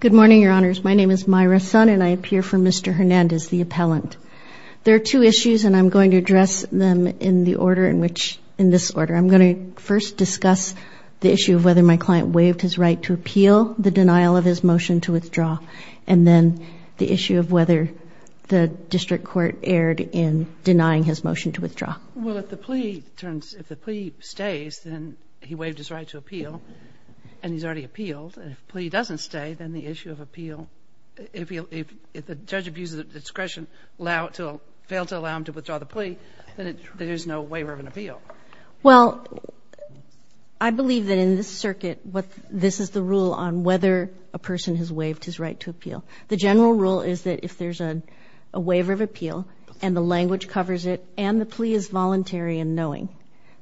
Good morning, Your Honors. My name is Myra Sun, and I appear for Mr. Hernandez, the appellant. There are two issues, and I'm going to address them in this order. I'm going to first discuss the issue of whether my client waived his right to appeal the denial of his motion to withdraw, and then the issue of whether the district court erred in denying his motion to withdraw. Well, if the plea stays, then he waived his right to appeal, and he's already appealed. And if the plea doesn't stay, then the issue of appeal, if the judge abuses the discretion, fail to allow him to withdraw the plea, then there's no waiver of an appeal. Well, I believe that in this circuit, this is the rule on whether a person has waived his right to appeal. The general rule is that if there's a waiver of appeal and the language covers it and the plea is voluntary and knowing,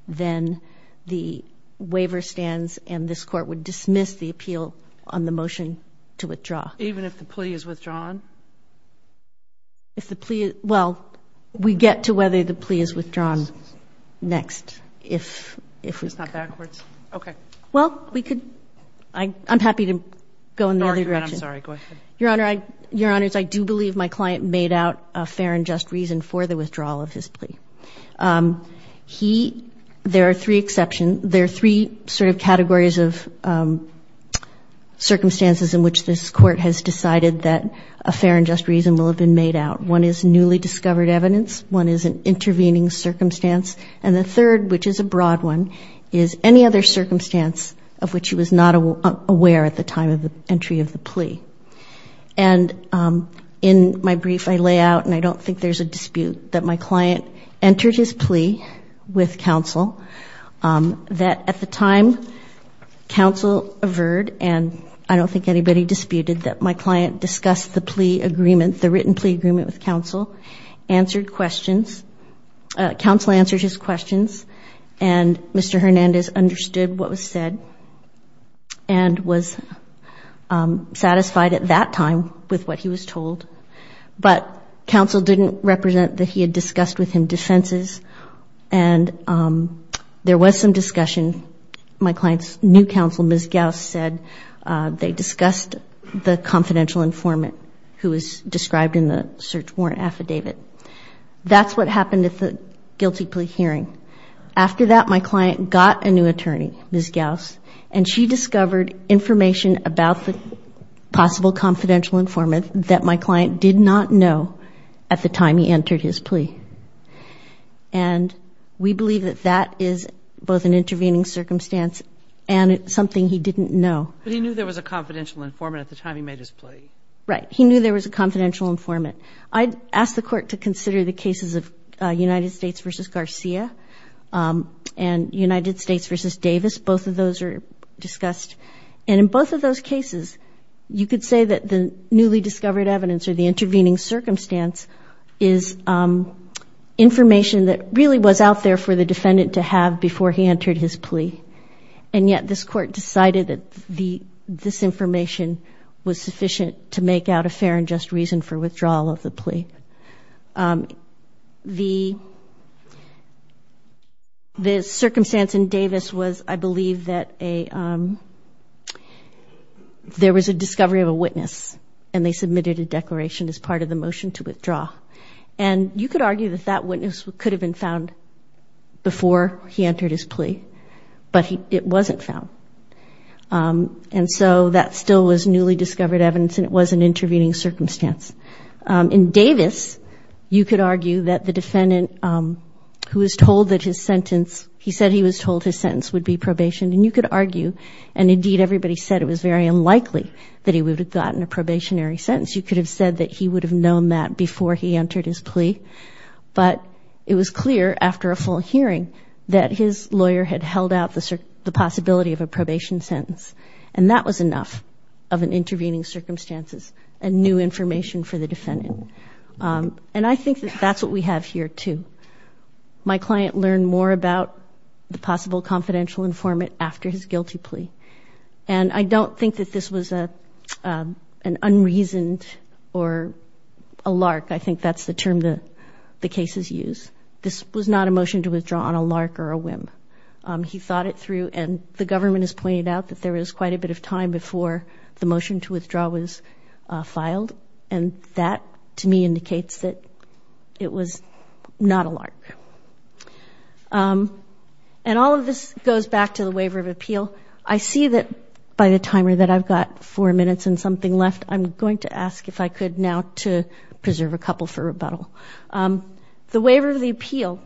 then the waiver stands and this court would dismiss the appeal on the motion to withdraw. Even if the plea is withdrawn? If the plea is ñ well, we get to whether the plea is withdrawn next, if we could. It's not backwards? Okay. Well, we could ñ I'm happy to go in the other direction. I'm sorry. Go ahead. Your Honor, I ñ Your Honors, I do believe my client made out a fair and just reason for the withdrawal of his plea. He ñ there are three exceptions. There are three sort of categories of circumstances in which this court has decided that a fair and just reason will have been made out. One is newly discovered evidence. One is an intervening circumstance. And the third, which is a broad one, is any other circumstance of which he was not aware at the time of the entry of the plea. And in my brief, I lay out, and I don't think there's a dispute, that my client entered his plea with counsel, that at the time counsel averred, and I don't think anybody disputed, that my client discussed the plea agreement, the written plea agreement with counsel, answered questions. Counsel answered his questions, and Mr. Hernandez understood what was said and was satisfied at that time with what he was told. But counsel didn't represent that he had discussed with him defenses, and there was some discussion. My client's new counsel, Ms. Gauss, said they discussed the confidential informant who was described in the search warrant affidavit. That's what happened at the guilty plea hearing. After that, my client got a new attorney, Ms. Gauss, and she discovered information about the possible confidential informant that my client did not know at the time he entered his plea. And we believe that that is both an intervening circumstance and something he didn't know. But he knew there was a confidential informant at the time he made his plea. Right. He knew there was a confidential informant. I'd ask the Court to consider the cases of United States v. Garcia and United States v. Davis. Both of those are discussed. And in both of those cases, you could say that the newly discovered evidence or the intervening circumstance is information that really was out there for the defendant to have before he entered his plea. And yet this Court decided that this information was sufficient to make out a fair and just reason for withdrawal of the plea. The circumstance in Davis was, I believe, that there was a discovery of a witness, and they submitted a declaration as part of the motion to withdraw. And you could argue that that witness could have been found before he entered his plea, but it wasn't found. And so that still was newly discovered evidence, and it was an intervening circumstance. In Davis, you could argue that the defendant who was told that his sentence, he said he was told his sentence would be probation, and you could argue, and indeed everybody said it was very unlikely that he would have gotten a probationary sentence. You could have said that he would have known that before he entered his plea, but it was clear after a full hearing that his lawyer had held out the possibility of a probation sentence, and that was enough of an intervening circumstances and new information for the defendant. And I think that that's what we have here, too. My client learned more about the possible confidential informant after his guilty plea, and I don't think that this was an unreasoned or a lark. I think that's the term that the cases use. This was not a motion to withdraw on a lark or a whim. He thought it through, and the government has pointed out that there was quite a bit of time before the motion to withdraw was filed, and that, to me, indicates that it was not a lark. And all of this goes back to the waiver of appeal. I see that by the timer that I've got four minutes and something left, I'm going to ask if I could now to preserve a couple for rebuttal. The waiver of the appeal,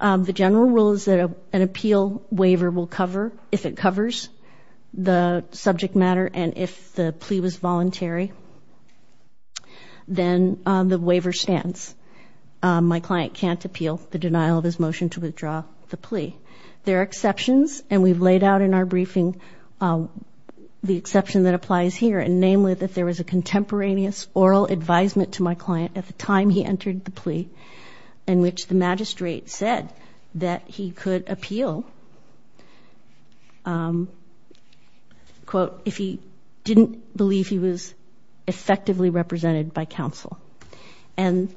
the general rule is that an appeal waiver will cover, if it covers the subject matter and if the plea was voluntary, then the waiver stands. My client can't appeal the denial of his motion to withdraw the plea. There are exceptions, and we've laid out in our briefing the exception that applies here, and namely that there was a contemporaneous oral advisement to my client at the time he entered the plea, in which the magistrate said that he could appeal, quote, if he didn't believe he was effectively represented by counsel. And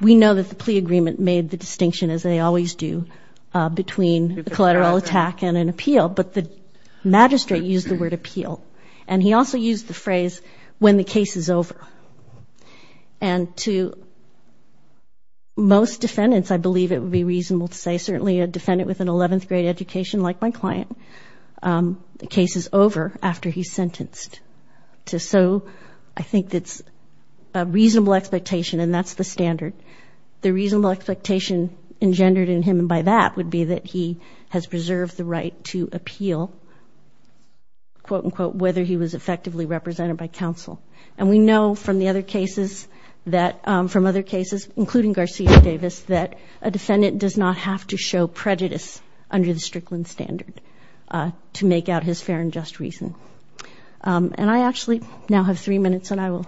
we know that the plea agreement made the distinction, as they always do, between a collateral attack and an appeal, but the magistrate used the word appeal, and he also used the phrase, when the case is over. And to most defendants, I believe it would be reasonable to say, certainly a defendant with an 11th grade education like my client, the case is over after he's sentenced. So I think it's a reasonable expectation, and that's the standard. The reasonable expectation engendered in him by that would be that he has preserved the right to appeal, quote, unquote, whether he was effectively represented by counsel. And we know from the other cases that, from other cases, including Garcia Davis, that a defendant does not have to show prejudice under the Strickland standard to make out his fair and just reason. And I actually now have three minutes, and I will,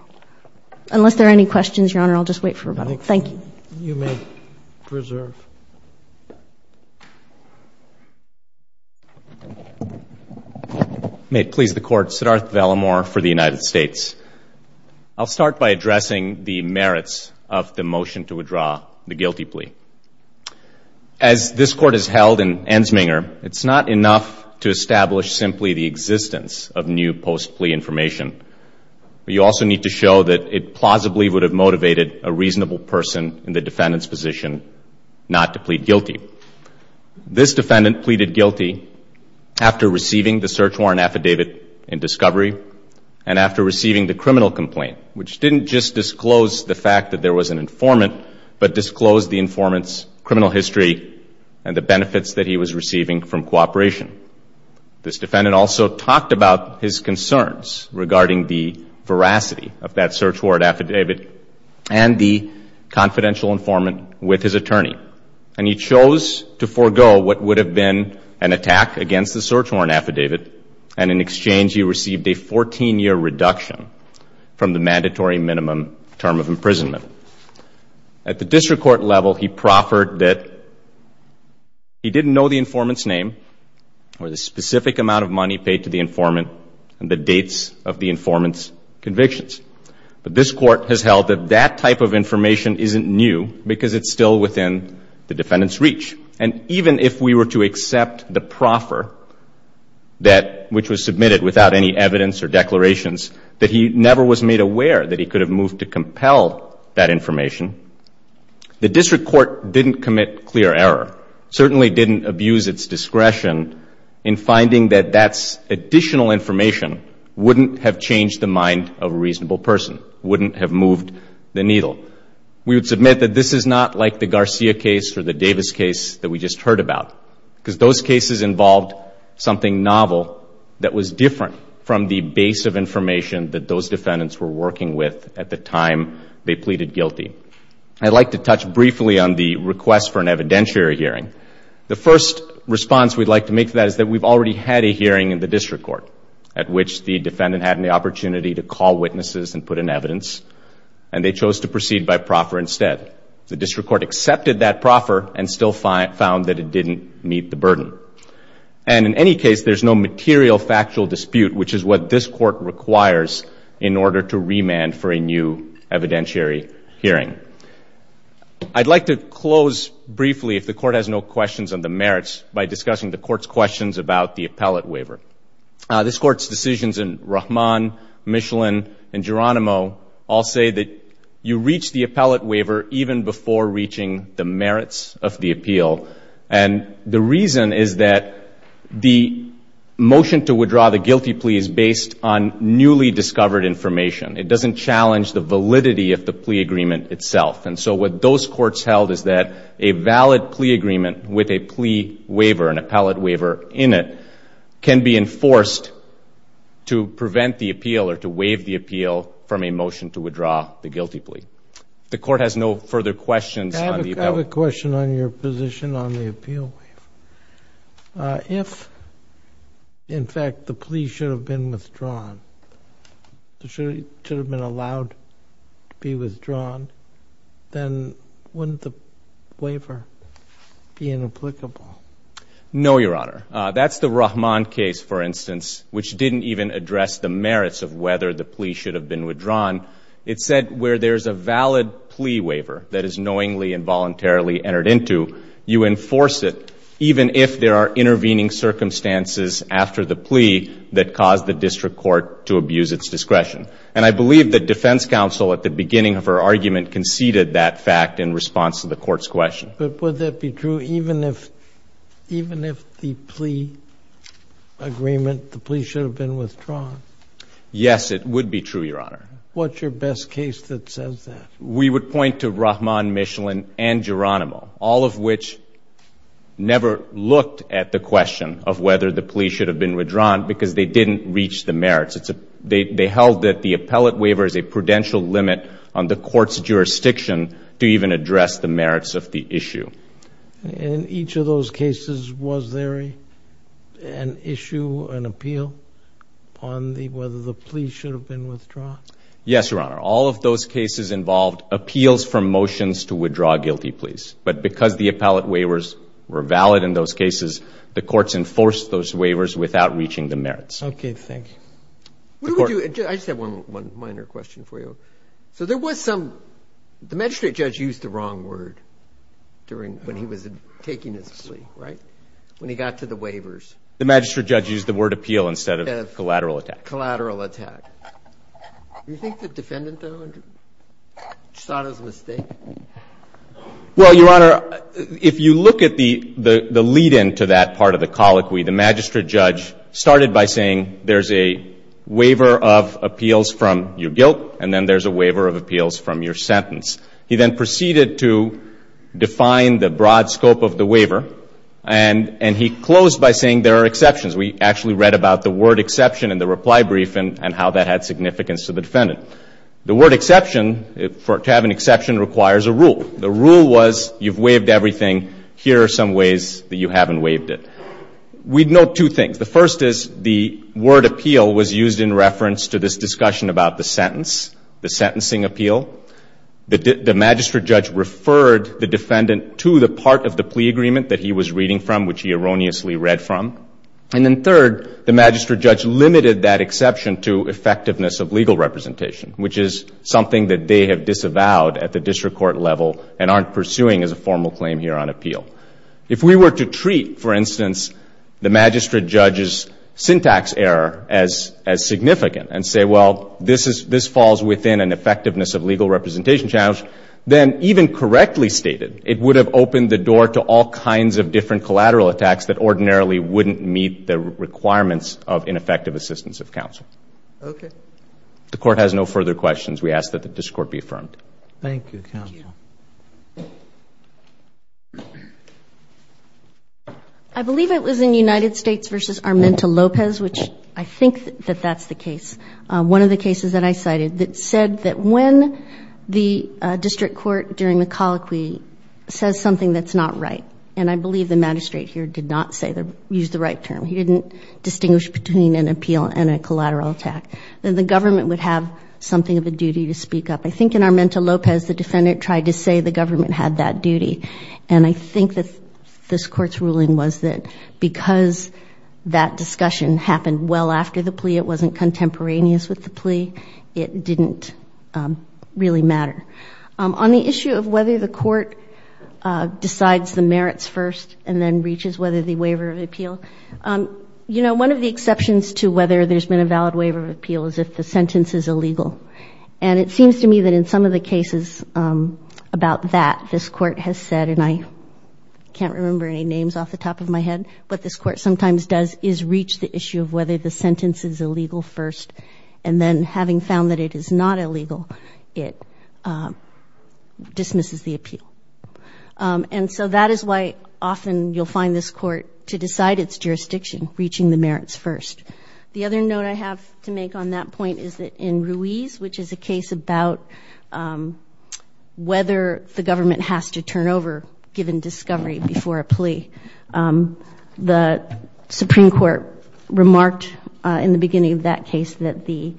unless there are any questions, Your Honor, I'll just wait for a moment. Thank you. You may preserve. May it please the Court. Siddharth Vallamore for the United States. I'll start by addressing the merits of the motion to withdraw the guilty plea. As this Court has held in Ensminger, it's not enough to establish simply the existence of new post-plea information. You also need to show that it plausibly would have motivated a reasonable person in the defendant's position not to plead guilty. This defendant pleaded guilty after receiving the search warrant affidavit in discovery and after receiving the criminal complaint, which didn't just disclose the fact that there was an informant but disclosed the informant's criminal history and the benefits that he was receiving from cooperation. This defendant also talked about his concerns regarding the veracity of that search warrant affidavit and the confidential informant with his attorney. And he chose to forego what would have been an attack against the search warrant affidavit, and in exchange he received a 14-year reduction from the mandatory minimum term of imprisonment. At the district court level, he proffered that he didn't know the informant's name or the specific amount of money paid to the informant and the dates of the informant's convictions. But this Court has held that that type of information isn't new because it's still within the defendant's reach. And even if we were to accept the proffer, which was submitted without any evidence or declarations, that he never was made aware that he could have moved to compel that information, the district court didn't commit clear error, certainly didn't abuse its discretion in finding that that additional information wouldn't have changed the mind of a reasonable person, wouldn't have moved the needle. We would submit that this is not like the Garcia case or the Davis case that we just heard about, because those cases involved something novel that was different from the base of information that those defendants were working with at the time they pleaded guilty. I'd like to touch briefly on the request for an evidentiary hearing. The first response we'd like to make to that is that we've already had a hearing in the district court at which the defendant had an opportunity to call witnesses and put in evidence, and they chose to proceed by proffer instead. The district court accepted that proffer and still found that it didn't meet the burden. And in any case, there's no material factual dispute, which is what this court requires in order to remand for a new evidentiary hearing. I'd like to close briefly, if the court has no questions on the merits, by discussing the court's questions about the appellate waiver. This court's decisions in Rahman, Michelin, and Geronimo all say that you reach the appellate waiver even before reaching the merits of the appeal. And the reason is that the motion to withdraw the guilty plea is based on newly discovered information. It doesn't challenge the validity of the plea agreement itself. And so what those courts held is that a valid plea agreement with a plea waiver, an appellate waiver in it, can be enforced to prevent the appeal or to waive the appeal from a motion to withdraw the guilty plea. The court has no further questions. I have a question on your position on the appeal. If, in fact, the plea should have been withdrawn, should have been allowed to be withdrawn, then wouldn't the waiver be inapplicable? No, Your Honor. That's the Rahman case, for instance, which didn't even address the merits of whether the plea should have been withdrawn. It said where there's a valid plea waiver that is knowingly and voluntarily entered into, you enforce it even if there are intervening circumstances after the plea that caused the district court to abuse its discretion. And I believe that defense counsel, at the beginning of her argument, conceded that fact in response to the court's question. But would that be true even if the plea agreement, the plea should have been withdrawn? Yes, it would be true, Your Honor. What's your best case that says that? We would point to Rahman, Michelin, and Geronimo, all of which never looked at the question of whether the plea should have been withdrawn because they didn't reach the merits. They held that the appellate waiver is a prudential limit on the court's jurisdiction to even address the merits of the issue. In each of those cases, was there an issue, an appeal, on whether the plea should have been withdrawn? Yes, Your Honor. All of those cases involved appeals from motions to withdraw guilty pleas. But because the appellate waivers were valid in those cases, the courts enforced those waivers without reaching the merits. Okay. Thank you. I just have one minor question for you. So there was some, the magistrate judge used the wrong word during, when he was taking his plea, right, when he got to the waivers? The magistrate judge used the word appeal instead of collateral attack. Collateral attack. Do you think the defendant, though, thought it was a mistake? Well, Your Honor, if you look at the lead-in to that part of the colloquy, the magistrate judge started by saying there's a waiver of appeals from your guilt and then there's a waiver of appeals from your sentence. He then proceeded to define the broad scope of the waiver, and he closed by saying there are exceptions. We actually read about the word exception in the reply brief and how that had significance to the defendant. The word exception, to have an exception requires a rule. The rule was you've waived everything. Here are some ways that you haven't waived it. We note two things. The first is the word appeal was used in reference to this discussion about the sentence, the sentencing appeal. The magistrate judge referred the defendant to the part of the plea agreement that he was reading from, which he erroneously read from. And then third, the magistrate judge limited that exception to effectiveness of legal representation, which is something that they have disavowed at the district court level and aren't pursuing as a formal claim here on appeal. If we were to treat, for instance, the magistrate judge's syntax error as significant and say, well, this falls within an effectiveness of legal representation challenge, then even correctly stated, it would have opened the door to all kinds of different collateral attacks that ordinarily wouldn't meet the requirements of ineffective assistance of counsel. Okay. If the Court has no further questions, we ask that the district court be affirmed. Thank you, counsel. I believe it was in United States v. Armenta-Lopez, which I think that that's the case, one of the cases that I cited that said that when the district court during the colloquy says something that's not right, and I believe the magistrate here did not use the right term, he didn't distinguish between an appeal and a collateral attack, that the government would have something of a duty to speak up. I think in Armenta-Lopez the defendant tried to say the government had that duty, and I think that this Court's ruling was that because that discussion happened well after the plea, it wasn't contemporaneous with the plea, it didn't really matter. On the issue of whether the Court decides the merits first and then reaches whether the waiver of appeal, you know, one of the exceptions to whether there's been a valid waiver of appeal is if the sentence is illegal. And it seems to me that in some of the cases about that, this Court has said, and I can't remember any names off the top of my head, what this Court sometimes does is reach the issue of whether the sentence is illegal first, and then having found that it is not illegal, it dismisses the appeal. And so that is why often you'll find this Court to decide its jurisdiction, reaching the merits first. The other note I have to make on that point is that in Ruiz, which is a case about whether the government has to turn over given discovery before a plea, the Supreme Court remarked in the beginning of that case that the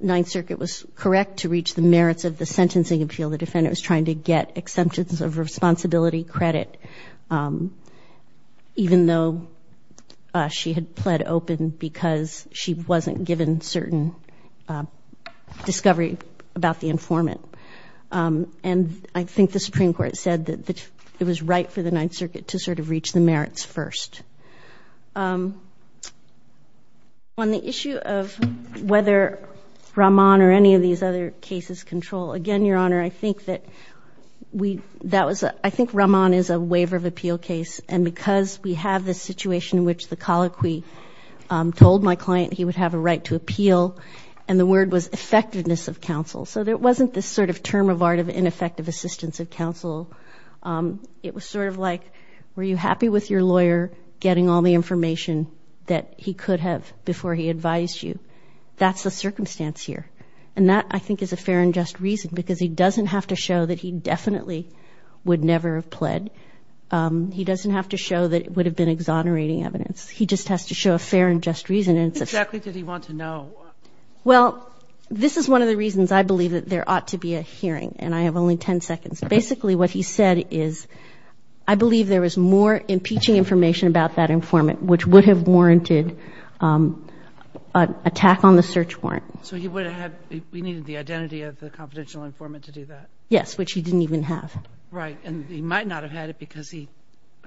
Ninth Circuit was correct to reach the merits of the sentencing appeal. The defendant was trying to get exemptions of responsibility credit, even though she had pled open because she wasn't given certain discovery about the informant. And I think the Supreme Court said that it was right for the Ninth Circuit to sort of reach the merits first. On the issue of whether Rahman or any of these other cases control, again, Your Honor, I think Rahman is a waiver of appeal case, and because we have this situation in which the colloquy told my client he would have a right to appeal, and the word was effectiveness of counsel. So there wasn't this sort of term of art of ineffective assistance of counsel. It was sort of like, were you happy with your lawyer getting all the information that he could have before he advised you? That's the circumstance here. And that, I think, is a fair and just reason, because he doesn't have to show that he definitely would never have pled. He doesn't have to show that it would have been exonerating evidence. He just has to show a fair and just reason. And it's a fact that he wants to know. Well, this is one of the reasons I believe that there ought to be a hearing, and I have only 10 seconds. Basically what he said is, I believe there was more impeaching information about that informant, which would have warranted an attack on the search warrant. So he would have had the identity of the confidential informant to do that? Yes, which he didn't even have. Right. And he might not have had it because he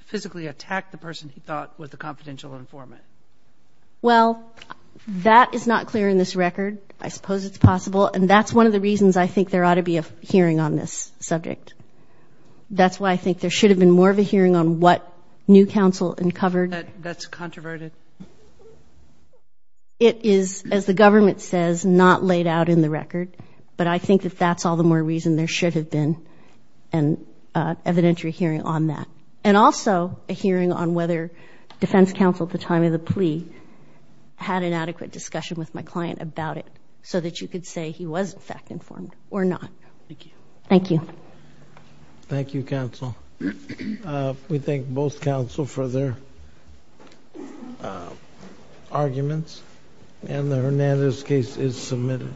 physically attacked the person he thought was the confidential informant. Well, that is not clear in this record. I suppose it's possible. And that's one of the reasons I think there ought to be a hearing on this subject. That's why I think there should have been more of a hearing on what new counsel uncovered. That's controverted? It is, as the government says, not laid out in the record. But I think that that's all the more reason there should have been an evidentiary hearing on that. And also a hearing on whether defense counsel at the time of the plea had an adequate discussion with my client about it, so that you could say he was fact-informed or not. Thank you. Thank you. Thank you, counsel. We thank both counsel for their arguments. And the Hernandez case is submitted.